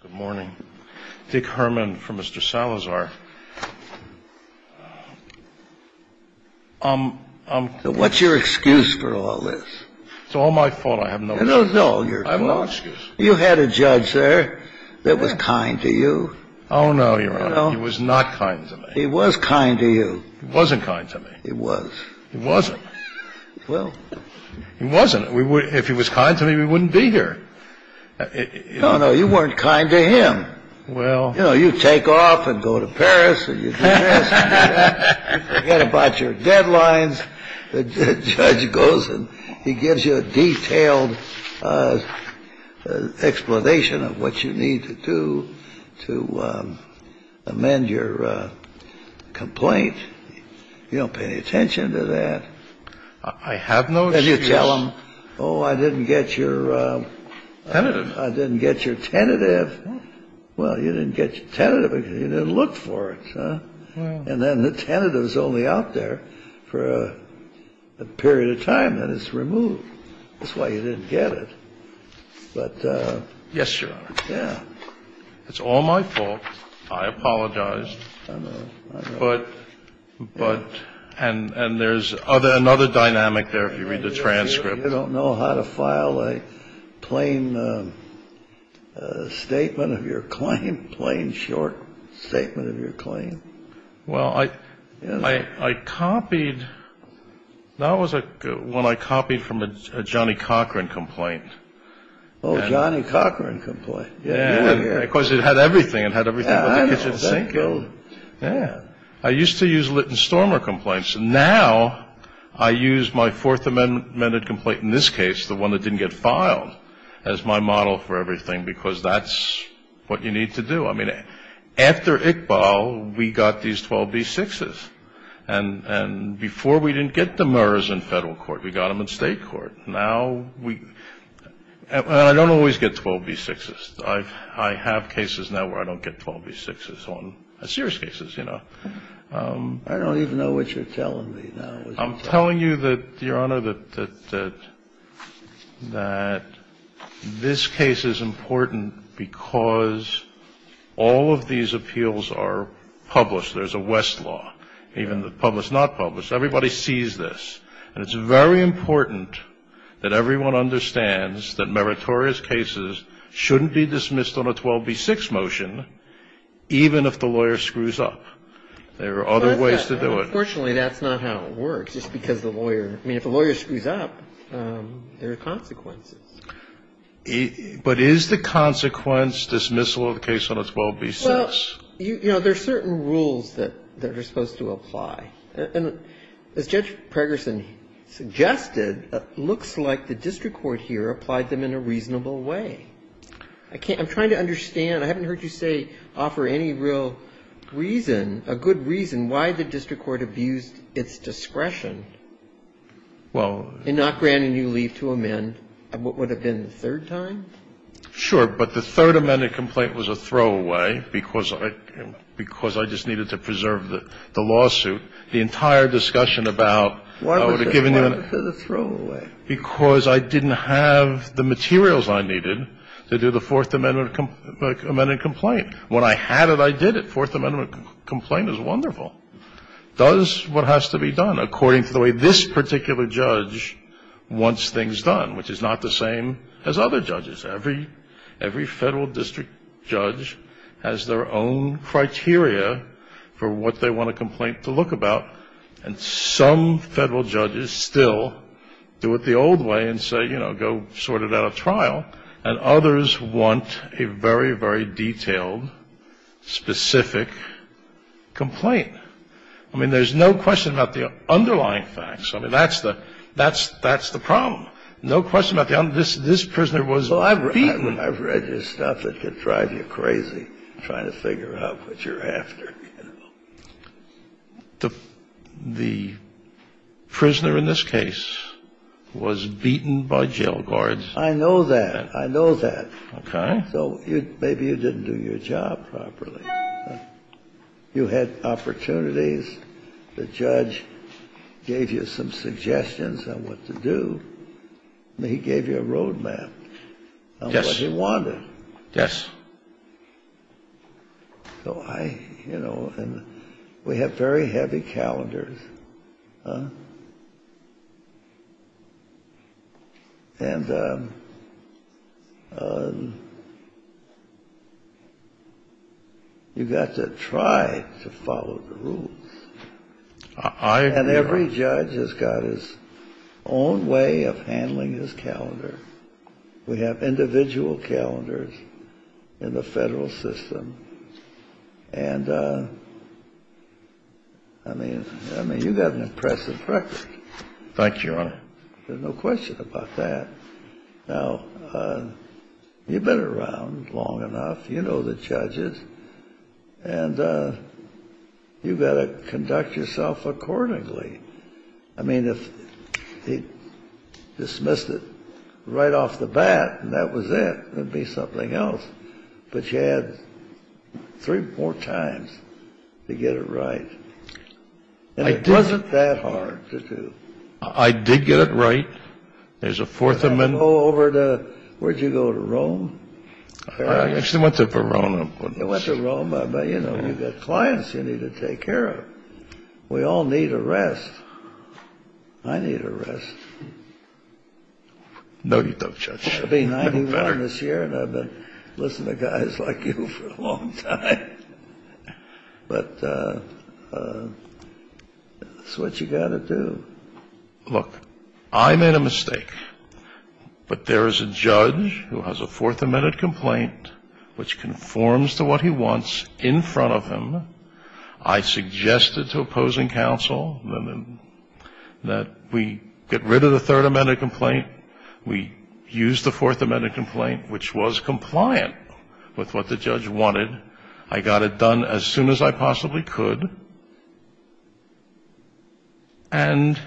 Good morning. Dick Herman from Mr. Salazar. What's your excuse for all this? It's all my fault. I have no excuse. No, no, your fault. I have no excuse. You had a judge there that was kind to you. Oh, no, Your Honor. He was not kind to me. He was kind to you. He wasn't kind to me. He was. He wasn't. Well. He wasn't. If he was kind to me, we wouldn't be here. No, no, you weren't kind to him. Well. You know, you take off and go to Paris and you do this and you forget about your deadlines. The judge goes and he gives you a detailed explanation of what you need to do to amend your complaint. You don't pay any attention to that. I have no excuse. And you tell him, oh, I didn't get your. Tentative. I didn't get your tentative. Well, you didn't get your tentative because you didn't look for it. And then the tentative is only out there for a period of time and it's removed. That's why you didn't get it. But. Yes, Your Honor. Yeah. It's all my fault. I apologize. But. But. And there's another dynamic there if you read the transcript. You don't know how to file a plain statement of your claim. Plain short statement of your claim. Well, I copied. That was when I copied from a Johnny Cochran complaint. Oh, Johnny Cochran complaint. Yeah. Because it had everything. It had everything in the kitchen sink. Yeah. I used to use Litten-Stormer complaints. Now I use my Fourth Amendment complaint in this case, the one that didn't get filed, as my model for everything. Because that's what you need to do. I mean, after Iqbal, we got these 12b6s. And before we didn't get the Murrs in federal court. We got them in state court. Now we. I don't always get 12b6s. I have cases now where I don't get 12b6s on serious cases, you know. I don't even know what you're telling me now. I'm telling you that, Your Honor, that this case is important because all of these appeals are published. There's a West law. Even the published, not published. Everybody sees this. And it's very important that everyone understands that meritorious cases shouldn't be dismissed on a 12b6 motion, even if the lawyer screws up. There are other ways to do it. Unfortunately, that's not how it works. It's because the lawyer. I mean, if the lawyer screws up, there are consequences. But is the consequence dismissal of the case on a 12b6? Well, you know, there are certain rules that are supposed to apply. And as Judge Pregerson suggested, it looks like the district court here applied them in a reasonable way. I'm trying to understand. I haven't heard you say offer any real reason, a good reason why the district court abused its discretion in not granting you leave to amend what would have been the third time. Sure. Well, I'm not going to go into the details of the lawsuit, the entire discussion about why would it have given you the throwaway because I didn't have the materials I needed to do the Fourth Amendment complaint. When I had it, I did it. Fourth Amendment complaint is wonderful. Does what has to be done according to the way this particular judge wants things done, which is not the same as other judges. Every federal district judge has their own criteria for what they want a complaint to look about, and some federal judges still do it the old way and say, you know, go sort it at a trial. And others want a very, very detailed, specific complaint. I mean, there's no question about the underlying facts. I mean, that's the problem. Now, no question about the underlying facts. This prisoner was beaten. Well, I've read your stuff. It could drive you crazy trying to figure out what you're after. The prisoner in this case was beaten by jail guards. I know that. I know that. Okay. So maybe you didn't do your job properly. You had opportunities. The judge gave you some suggestions on what to do. He gave you a roadmap. Yes. On what he wanted. Yes. So I, you know, and we have very heavy calendars. And you've got to try to follow the rules. I agree. And every judge has got his own way of handling his calendar. We have individual calendars in the federal system. And, I mean, you've got an impressive record. Thank you, Your Honor. There's no question about that. Now, you've been around long enough. You know the judges. And you've got to conduct yourself accordingly. I mean, if he dismissed it right off the bat and that was it, it would be something else. But you had three more times to get it right. And it wasn't that hard to do. I did get it right. There's a fourth amendment. Where did you go? To Rome? I actually went to Verona. You went to Rome. But, you know, you've got clients you need to take care of. We all need a rest. I need a rest. No, you don't, Judge. I've been 91 this year and I've been listening to guys like you for a long time. But it's what you've got to do. Look, I made a mistake. But there is a judge who has a fourth amendment complaint which conforms to what he wants in front of him. I suggested to opposing counsel that we get rid of the third amendment complaint. We use the fourth amendment complaint, which was compliant with what the judge wanted. I got it done as soon as I possibly could. And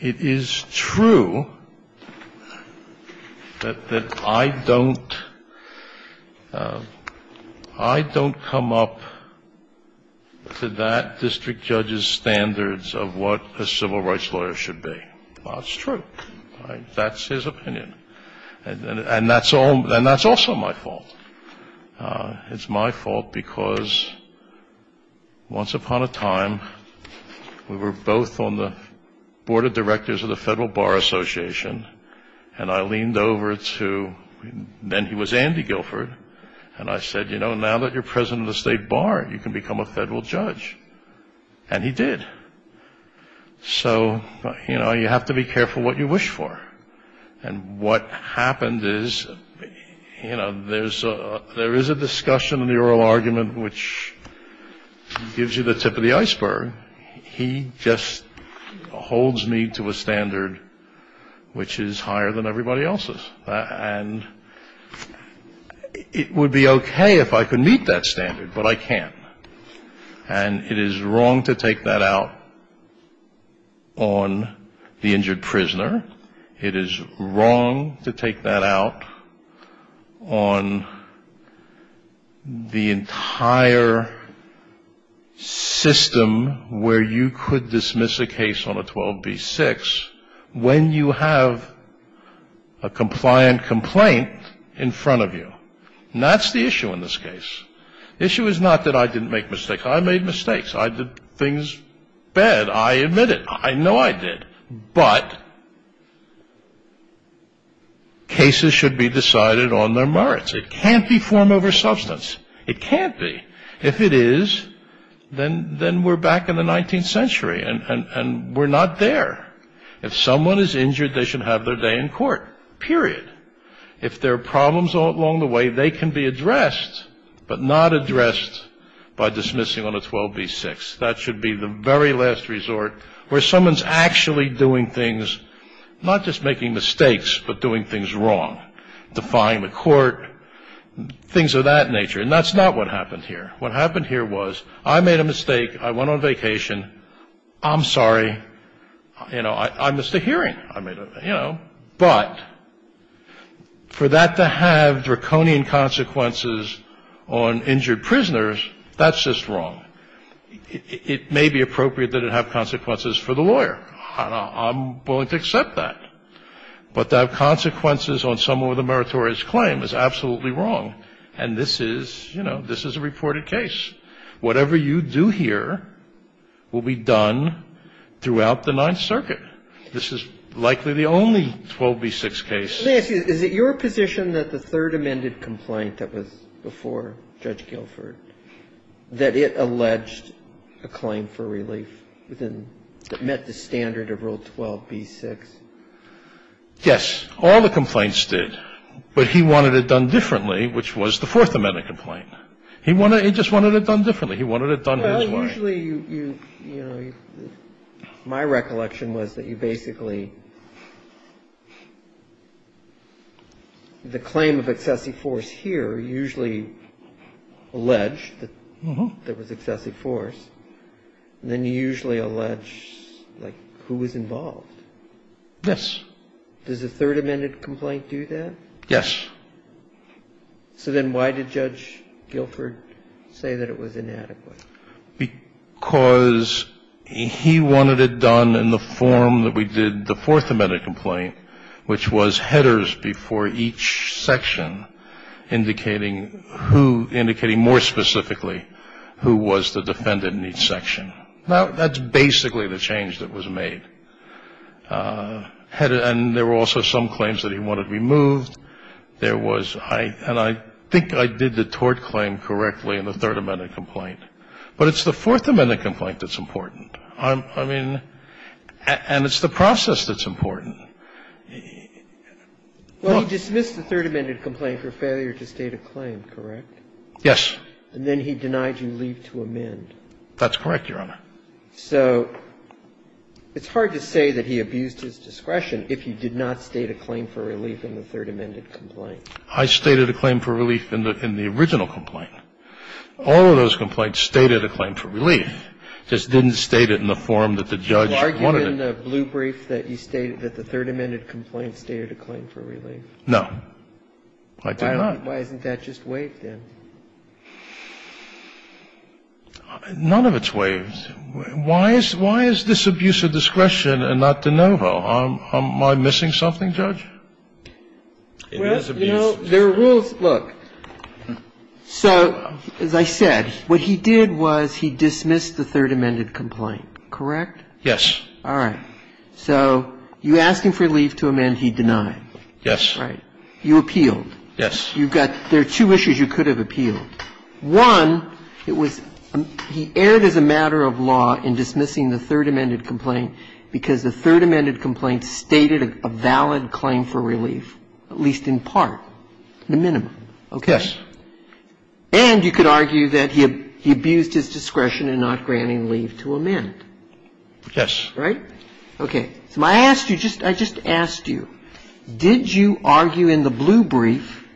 it is true that I don't come up to that district judge's standards of what a civil rights lawyer should be. That's true. That's his opinion. And that's also my fault. It's my fault because once upon a time we were both on the board of directors of the Federal Bar Association and I leaned over to, then he was Andy Guilford, and I said, you know, now that you're president of the state bar, you can become a federal judge. And he did. So, you know, you have to be careful what you wish for. And what happened is, you know, there is a discussion in the oral argument which gives you the tip of the iceberg. He just holds me to a standard which is higher than everybody else's. And it would be okay if I could meet that standard, but I can't. And it is wrong to take that out on the injured prisoner. It is wrong to take that out on the entire system where you could dismiss a case on a 12b-6 when you have a compliant complaint in front of you. And that's the issue in this case. The issue is not that I didn't make mistakes. I made mistakes. I did things bad. I admit it. I know I did. But cases should be decided on their merits. It can't be form over substance. It can't be. If it is, then we're back in the 19th century and we're not there. If someone is injured, they should have their day in court, period. If there are problems along the way, they can be addressed, but not addressed by dismissing on a 12b-6. That should be the very last resort where someone is actually doing things, not just making mistakes, but doing things wrong, defying the court, things of that nature. And that's not what happened here. What happened here was I made a mistake. I went on vacation. I'm sorry. You know, I missed a hearing. But for that to have draconian consequences on injured prisoners, that's just wrong. It may be appropriate that it have consequences for the lawyer. I'm willing to accept that. But to have consequences on someone with a meritorious claim is absolutely wrong. And this is a reported case. Whatever you do here will be done throughout the Ninth Circuit. This is likely the only 12b-6 case. Let me ask you. Is it your position that the third amended complaint that was before Judge Guilford, that it alleged a claim for relief within the standard of Rule 12b-6? Yes. All the complaints did. But he wanted it done differently, which was the Fourth Amendment complaint. He just wanted it done differently. He wanted it done his way. Well, usually, you know, my recollection was that you basically the claim of excessive force here usually alleged that there was excessive force. Then you usually allege, like, who was involved. Yes. Does the third amended complaint do that? Yes. So then why did Judge Guilford say that it was inadequate? Because he wanted it done in the form that we did the Fourth Amendment complaint, which was headers before each section indicating who ñ indicating more specifically who was the defendant in each section. Now, that's basically the change that was made. And there were also some claims that he wanted removed. There was ñ and I think I did the tort claim correctly in the third amended complaint. But it's the Fourth Amendment complaint that's important. I mean, and it's the process that's important. Well, he dismissed the third amended complaint for failure to state a claim, correct? Yes. And then he denied you leave to amend. That's correct, Your Honor. So it's hard to say that he abused his discretion if he did not state a claim for relief in the third amended complaint. I stated a claim for relief in the original complaint. All of those complaints stated a claim for relief. Just didn't state it in the form that the judge wanted it. Did you argue in the blue brief that you stated that the third amended complaint stated a claim for relief? No. I did not. Why isn't that just waived then? None of it's waived. Why is this abuse of discretion and not de novo? Am I missing something, Judge? Well, you know, there are rules. Look. So as I said, what he did was he dismissed the third amended complaint, correct? Yes. All right. So you asked him for relief to amend. He denied. Yes. Right. You appealed. Yes. You got the two issues you could have appealed. One, it was he erred as a matter of law in dismissing the third amended complaint because the third amended complaint stated a valid claim for relief, at least in part, the minimum. Yes. And you could argue that he abused his discretion in not granting leave to amend. Yes. Right? Okay. So I asked you, I just asked you, did you argue in the blue brief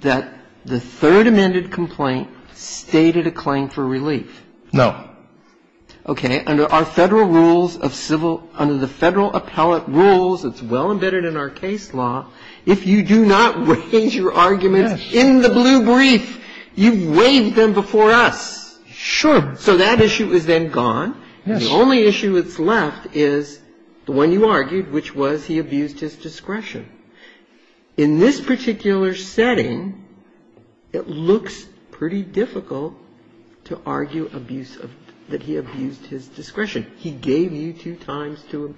that the third amended complaint stated a claim for relief? No. Okay. Under our Federal rules of civil – under the Federal appellate rules that's well embedded in our case law, if you do not raise your arguments in the blue brief, you've waived them before us. Sure. So that issue is then gone. Yes. And the only issue that's left is the one you argued, which was he abused his discretion. In this particular setting, it looks pretty difficult to argue abuse of – that he abused his discretion. He gave you two times to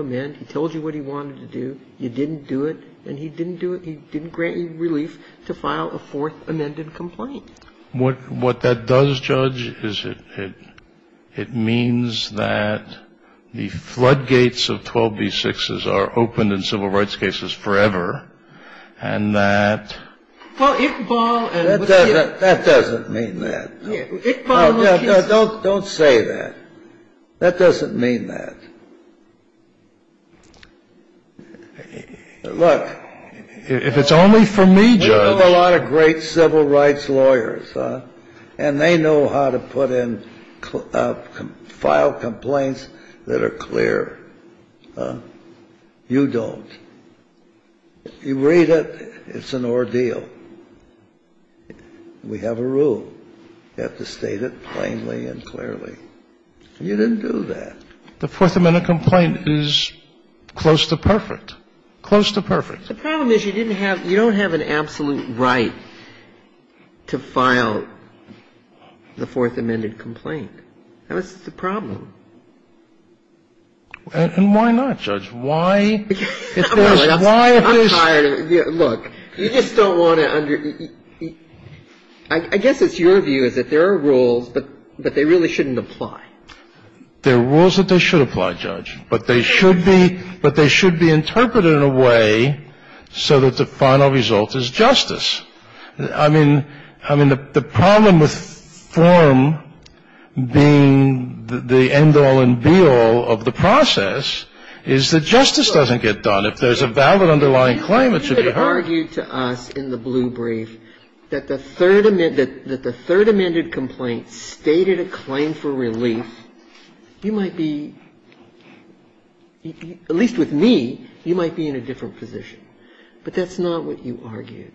amend. He told you what he wanted to do. You didn't do it. And he didn't do it. He didn't grant you relief to file a fourth amended complaint. What that does, Judge, is it means that the floodgates of 12b6s are open in civil rights cases forever, and that – Well, Iqbal and – That doesn't mean that. Iqbal – Don't say that. That doesn't mean that. Look – If it's only for me, Judge – We know a lot of great civil rights lawyers, and they know how to put in – file complaints that are clear. You don't. You read it, it's an ordeal. We have a rule. You have to state it plainly and clearly. You didn't do that. The fourth amended complaint is close to perfect. Close to perfect. The problem is you didn't have – you don't have an absolute right to file the fourth amended complaint. That was the problem. And why not, Judge? Why – I'm tired of it. Look, you just don't want to – I guess it's your view is that there are rules, but they really shouldn't apply. There are rules that they should apply, Judge. But they should be – but they should be interpreted in a way so that the final result is justice. I mean – I mean, the problem with form being the end-all and be-all of the process is that justice doesn't get done. If there's a valid underlying claim, it should be heard. You could argue to us in the blue brief that the third – that the third amended complaint stated a claim for relief. You might be – at least with me, you might be in a different position. But that's not what you argued.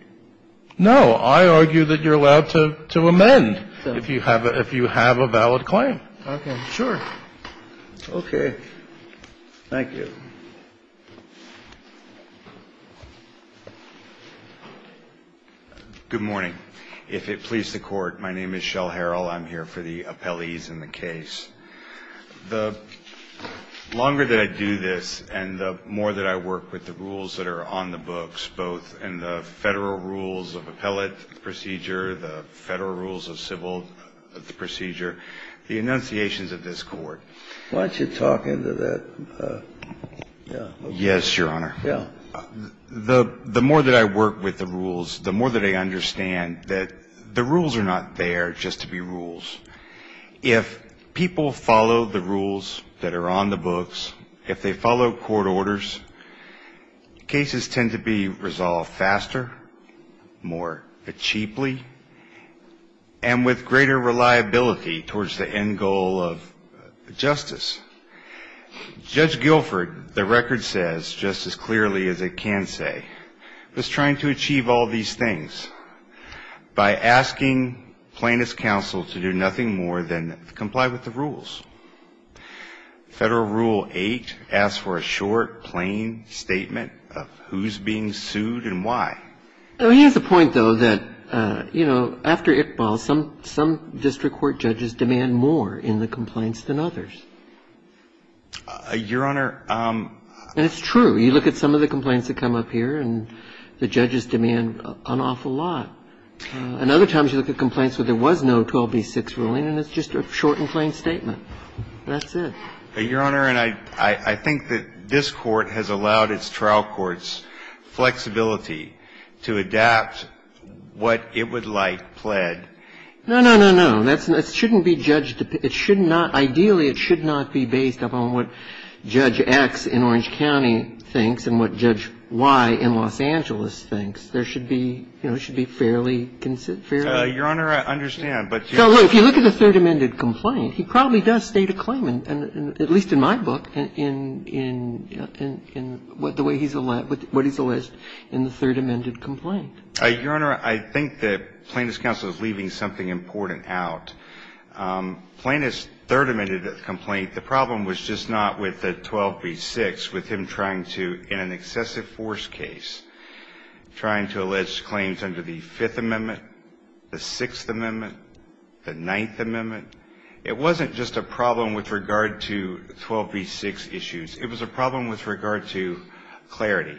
No. I argue that you're allowed to amend if you have a – if you have a valid claim. Okay. Sure. Okay. Thank you. Good morning. If it pleases the Court, my name is Shell Harrell. I'm here for the appellees in the case. The longer that I do this, and the more that I work with the rules that are on the books, both in the Federal rules of appellate procedure, the Federal rules of civil procedure, the enunciations of this Court. Why don't you talk into that? Yes, Your Honor. Yeah. The more that I work with the rules, the more that I understand that the rules are not there just to be rules. If people follow the rules that are on the books, if they follow court orders, cases tend to be resolved faster, more cheaply, and with greater reliability towards the end goal of Judge Guilford, the record says just as clearly as it can say, was trying to achieve all these things by asking plaintiff's counsel to do nothing more than comply with the rules. Federal Rule 8 asks for a short, plain statement of who's being sued and why. I mean, here's the point, though, that, you know, after Iqbal, some district court judges demand more in the complaints than others. Your Honor. And it's true. You look at some of the complaints that come up here and the judges demand an awful lot. And other times you look at complaints where there was no 12B6 ruling and it's just a short and plain statement. That's it. Your Honor, and I think that this Court has allowed its trial courts flexibility to adapt what it would like pled. No, no, no, no. That shouldn't be judged. Ideally, it should not be based upon what Judge X in Orange County thinks and what Judge Y in Los Angeles thinks. There should be, you know, there should be fairly, fairly. Your Honor, I understand. If you look at the Third Amended Complaint, he probably does state a claim, at least in my book, in the way he's alleged, what he's alleged in the Third Amended Complaint. Your Honor, I think that Plaintiff's counsel is leaving something important out. Plaintiff's Third Amended Complaint, the problem was just not with the 12B6, with him trying to, in an excessive force case, trying to allege claims under the Fifth Amendment, the Sixth Amendment, the Ninth Amendment. It wasn't just a problem with regard to 12B6 issues. It was a problem with regard to clarity.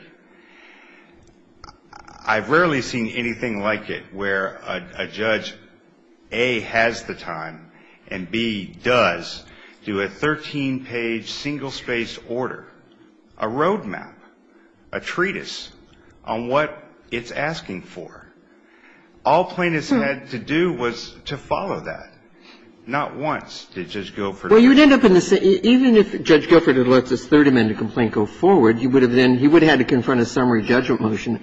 I've rarely seen anything like it where a judge, A, has the time and, B, does do a 13-page single-spaced order, a road map, a treatise on what it's asking for. All plaintiffs had to do was to follow that. Not once did Judge Guilford do that. Well, you'd end up in the same – even if Judge Guilford had let this Third Amended Complaint go forward, he would have then – he would have had to confront a summary judgment motion,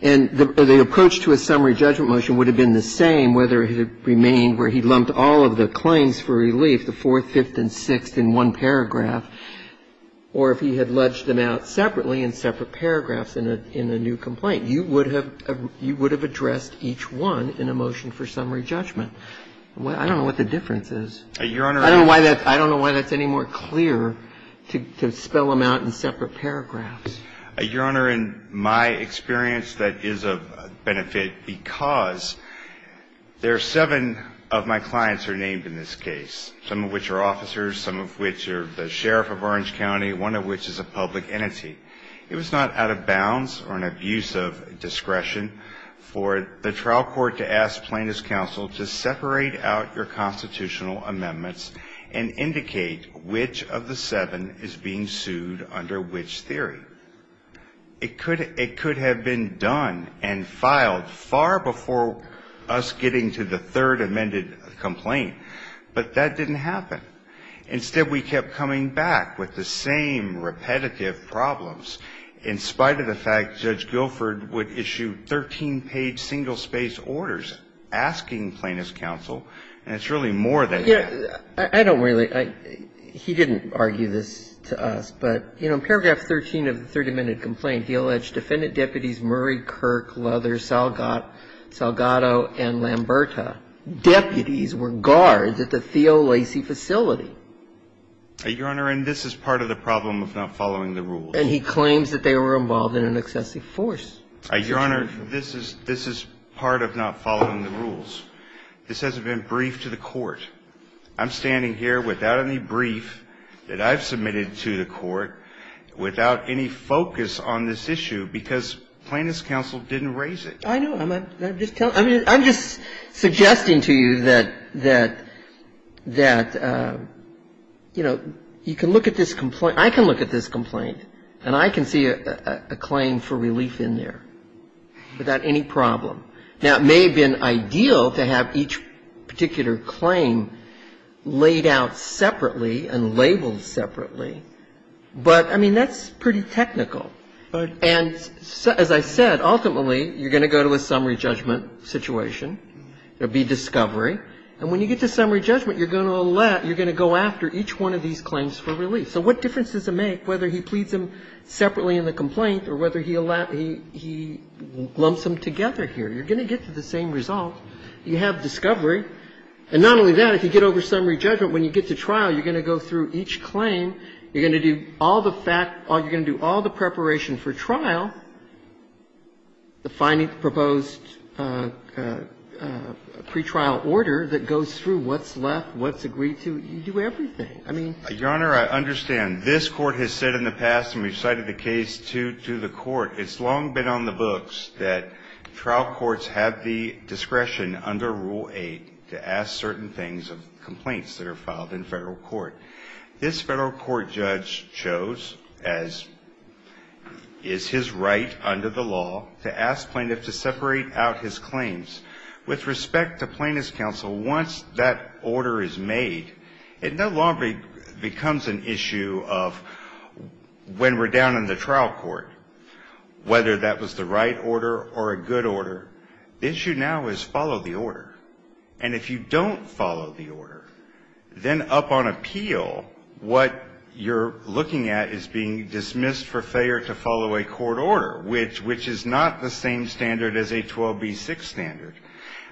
and the approach to a summary judgment motion would have been the same whether it had remained where he lumped all of the claims for relief, the fourth, fifth, and sixth, in one paragraph, or if he had ledged them out separately in separate paragraphs in a new complaint. You would have addressed each one in a motion for summary judgment. I don't know what the difference is. Your Honor, I don't know why that's – I don't know why that's any more clear to spell them out in separate paragraphs. Your Honor, in my experience, that is of benefit because there are seven of my clients who are named in this case, some of which are officers, some of which are the sheriff of Orange County, one of which is a public entity. It was not out of bounds or an abuse of discretion for the trial court to ask Plaintiffs' Counsel to separate out your constitutional amendments and indicate which of the seven is being sued under which theory. It could have been done and filed far before us getting to the third amended complaint, but that didn't happen. Instead, we kept coming back with the same repetitive problems in spite of the fact that we had a single-space order asking Plaintiffs' Counsel, and it's really more than that. I don't really – he didn't argue this to us, but in paragraph 13 of the third amended complaint, he alleged defendant deputies Murray, Kirk, Luther, Salgado and Lamberta, deputies were guards at the Theo Lacey facility. Your Honor, and this is part of the problem of not following the rules. And he claims that they were involved in an excessive force. Your Honor, this is part of not following the rules. This hasn't been briefed to the court. I'm standing here without any brief that I've submitted to the court, without any focus on this issue, because Plaintiffs' Counsel didn't raise it. I know. I'm just suggesting to you that, you know, you can look at this complaint – I can look at this complaint, and I can see a claim for relief in there without any problem. Now, it may have been ideal to have each particular claim laid out separately and labeled separately, but, I mean, that's pretty technical. And as I said, ultimately, you're going to go to a summary judgment situation. There will be discovery. And when you get to summary judgment, you're going to let – you're going to go after each one of these claims for relief. So what difference does it make whether he pleads them separately in the complaint or whether he lumps them together here? You're going to get to the same result. You have discovery. And not only that, if you get over summary judgment, when you get to trial, you're going to go through each claim, you're going to do all the fact – you're going to do all the preparation for trial, the finding proposed pretrial order that goes through what's left, what's agreed to. You do everything. I mean – Your Honor, I understand. This Court has said in the past, and we've cited the case to the Court, it's long been on the books that trial courts have the discretion under Rule 8 to ask certain things of complaints that are filed in Federal court. This Federal court judge chose, as is his right under the law, to ask plaintiffs to separate out his claims. With respect to plaintiff's counsel, once that order is made, it no longer becomes an issue of when we're down in the trial court, whether that was the right order or a good order. The issue now is follow the order. And if you don't follow the order, then up on appeal, what you're looking at is being dismissed for failure to follow a court order, which is not the same standard as a 12B6 standard.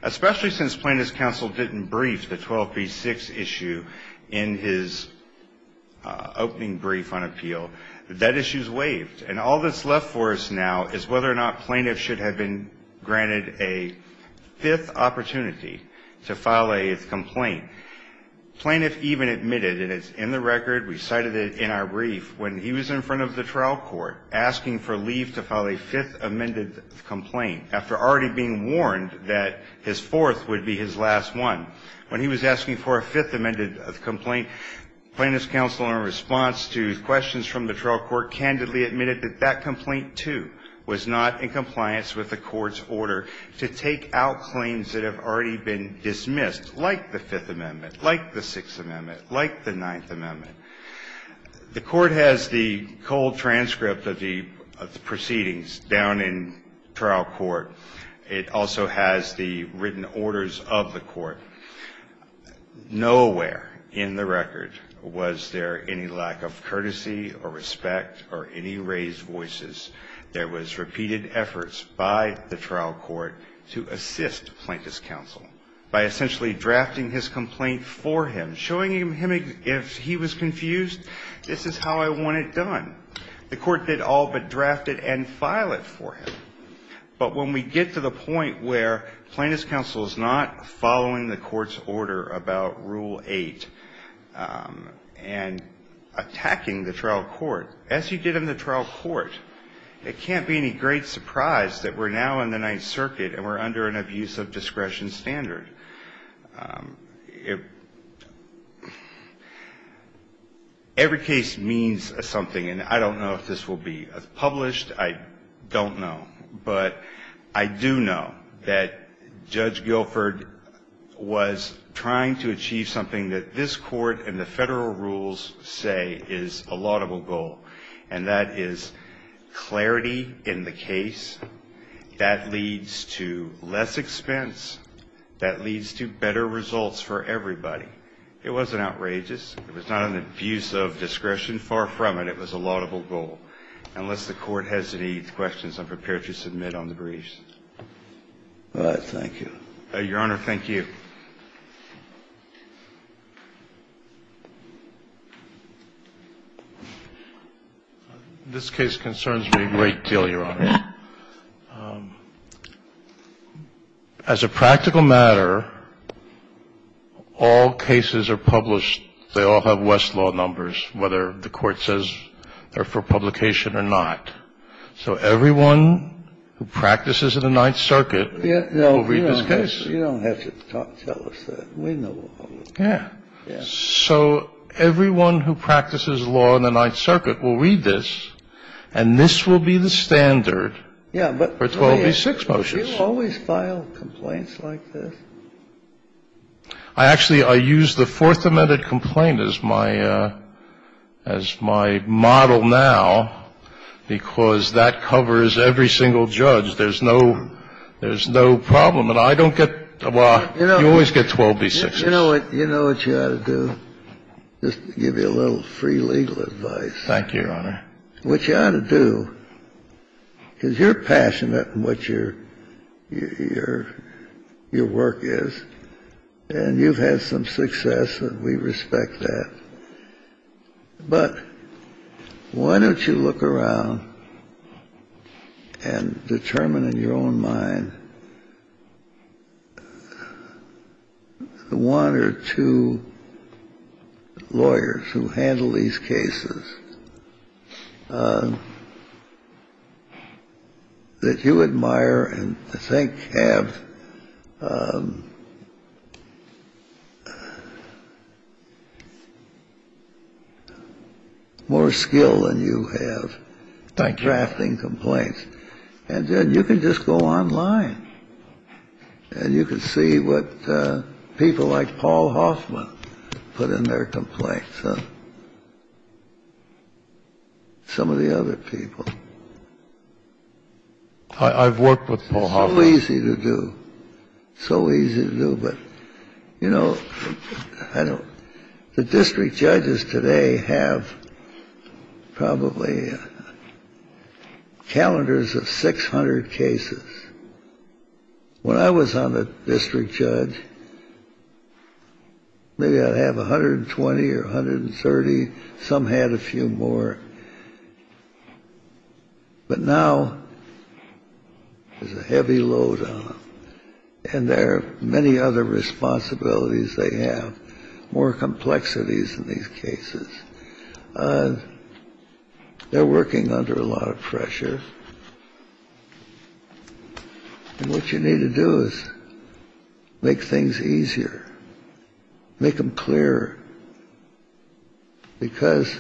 Especially since plaintiff's counsel didn't brief the 12B6 issue in his opening brief on appeal, that issue's waived. And all that's left for us now is whether or not plaintiffs should have been granted a fifth opportunity to file a complaint. Plaintiff even admitted, and it's in the record, we cited it in our brief, when he was in front of the trial court asking for leave to file a fifth amended complaint after already being warned that his fourth would be his last one. When he was asking for a fifth amended complaint, plaintiff's counsel, in response to questions from the trial court, candidly admitted that that complaint, too, was not in compliance with the court's order to take out claims that have already been dismissed, like the Fifth Amendment, like the Sixth Amendment, like the Ninth Amendment. The cold transcript of the proceedings down in trial court, it also has the written orders of the court. Nowhere in the record was there any lack of courtesy or respect or any raised voices. There was repeated efforts by the trial court to assist plaintiff's counsel by essentially drafting his complaint for him, showing him if he was confused, this is how I want it done. The court did all but draft it and file it for him. But when we get to the point where plaintiff's counsel is not following the court's order about Rule 8 and attacking the trial court, as you did in the trial court, it can't be any great surprise that we're now in the Ninth Circuit and we're under an abuse of discretion standard. Every case means something. And I don't know if this will be published. I don't know. But I do know that Judge Guilford was trying to achieve something that this court and the Federal rules say is a laudable goal, and that is clarity in the case. That leads to less expense. That leads to better results for everybody. It wasn't outrageous. It was not an abuse of discretion. Far from it. It was a laudable goal. Unless the Court hesitates, questions, I'm prepared to submit on the briefs. Thank you. Your Honor, thank you. This case concerns me a great deal, Your Honor. As a practical matter, all cases are published. They all have Westlaw numbers, whether the Court says they're for publication or not. So everyone who practices in the Ninth Circuit will read this case. You don't have to tell us that. We know all of it. Yeah. So everyone who practices law in the Ninth Circuit will read this, and this will be the standard for 12b-6 motions. Do you always file complaints like this? Actually, I use the Fourth Amendment complaint as my model now because that covers every single judge. There's no problem. And I don't get the law. You always get 12b-6s. You know what you ought to do? Just to give you a little free legal advice. Thank you, Your Honor. What you ought to do, because you're passionate in what your work is, and you've had some success, and we respect that, but why don't you look around and determine in your own mind the one or two lawyers who handle these cases that you admire and I think have more skill than you have by drafting complaints. And then you can just go online, and you can see what people like Paul Hoffman put in their complaints and some of the other people. I've worked with Paul Hoffman. It's so easy to do. It's so easy to do. But, you know, the district judges today have probably calendars of 600 cases. When I was on the district judge, maybe I'd have 120 or 130. Some had a few more. But now there's a heavy load on them, and there are many other responsibilities they have, more complexities in these cases. They're working under a lot of pressure, and what you need to do is make things easier, make them clearer, because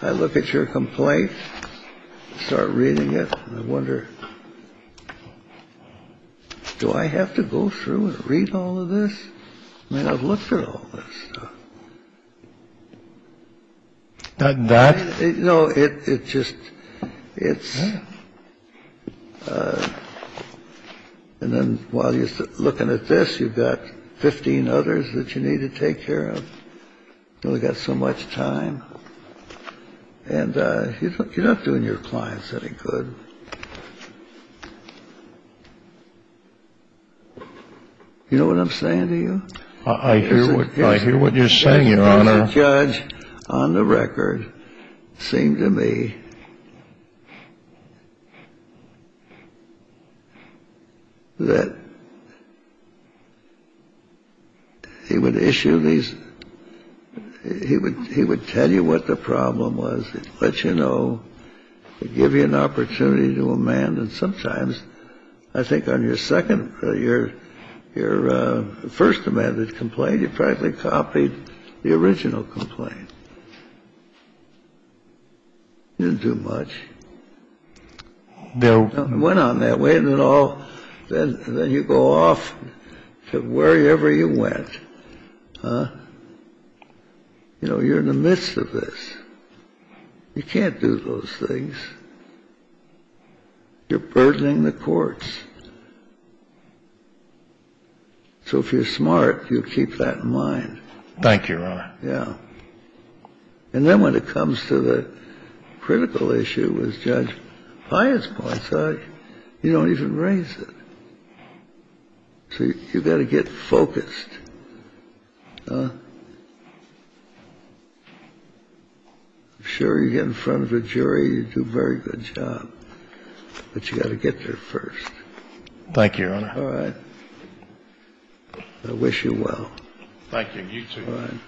I look at your complaint, start reading it, and I wonder, do I have to go through and read all of this? I mean, I've looked at all this stuff. I mean, I've looked at all this stuff. And I'm wondering, do I have to go through and read all of this? And I'm wondering, do I have to go through and read all of this? And then while you're looking at this, you've got 15 others that you need to take care of. You've only got so much time. And you're not doing your clients any good. You know what I'm saying to you? I hear what you're saying, Your Honor. As a judge, on the record, it seemed to me that he would issue these, he would tell you what the problem was, let you know, give you an opportunity to amend, and sometimes I think on your second, your first amended complaint, you practically copied the original complaint. Didn't do much. It went on that way, and then all, then you go off to wherever you went. You're in the midst of this. You can't do those things. You're burdening the courts. So if you're smart, you keep that in mind. Thank you, Your Honor. Yeah. And then when it comes to the critical issue with Judge Hyatt's points, you don't even raise it. So you've got to get focused. I'm sure you get in front of a jury, you do a very good job, but you've got to get there first. Thank you, Your Honor. All right. I wish you well. Thank you. You too. All right.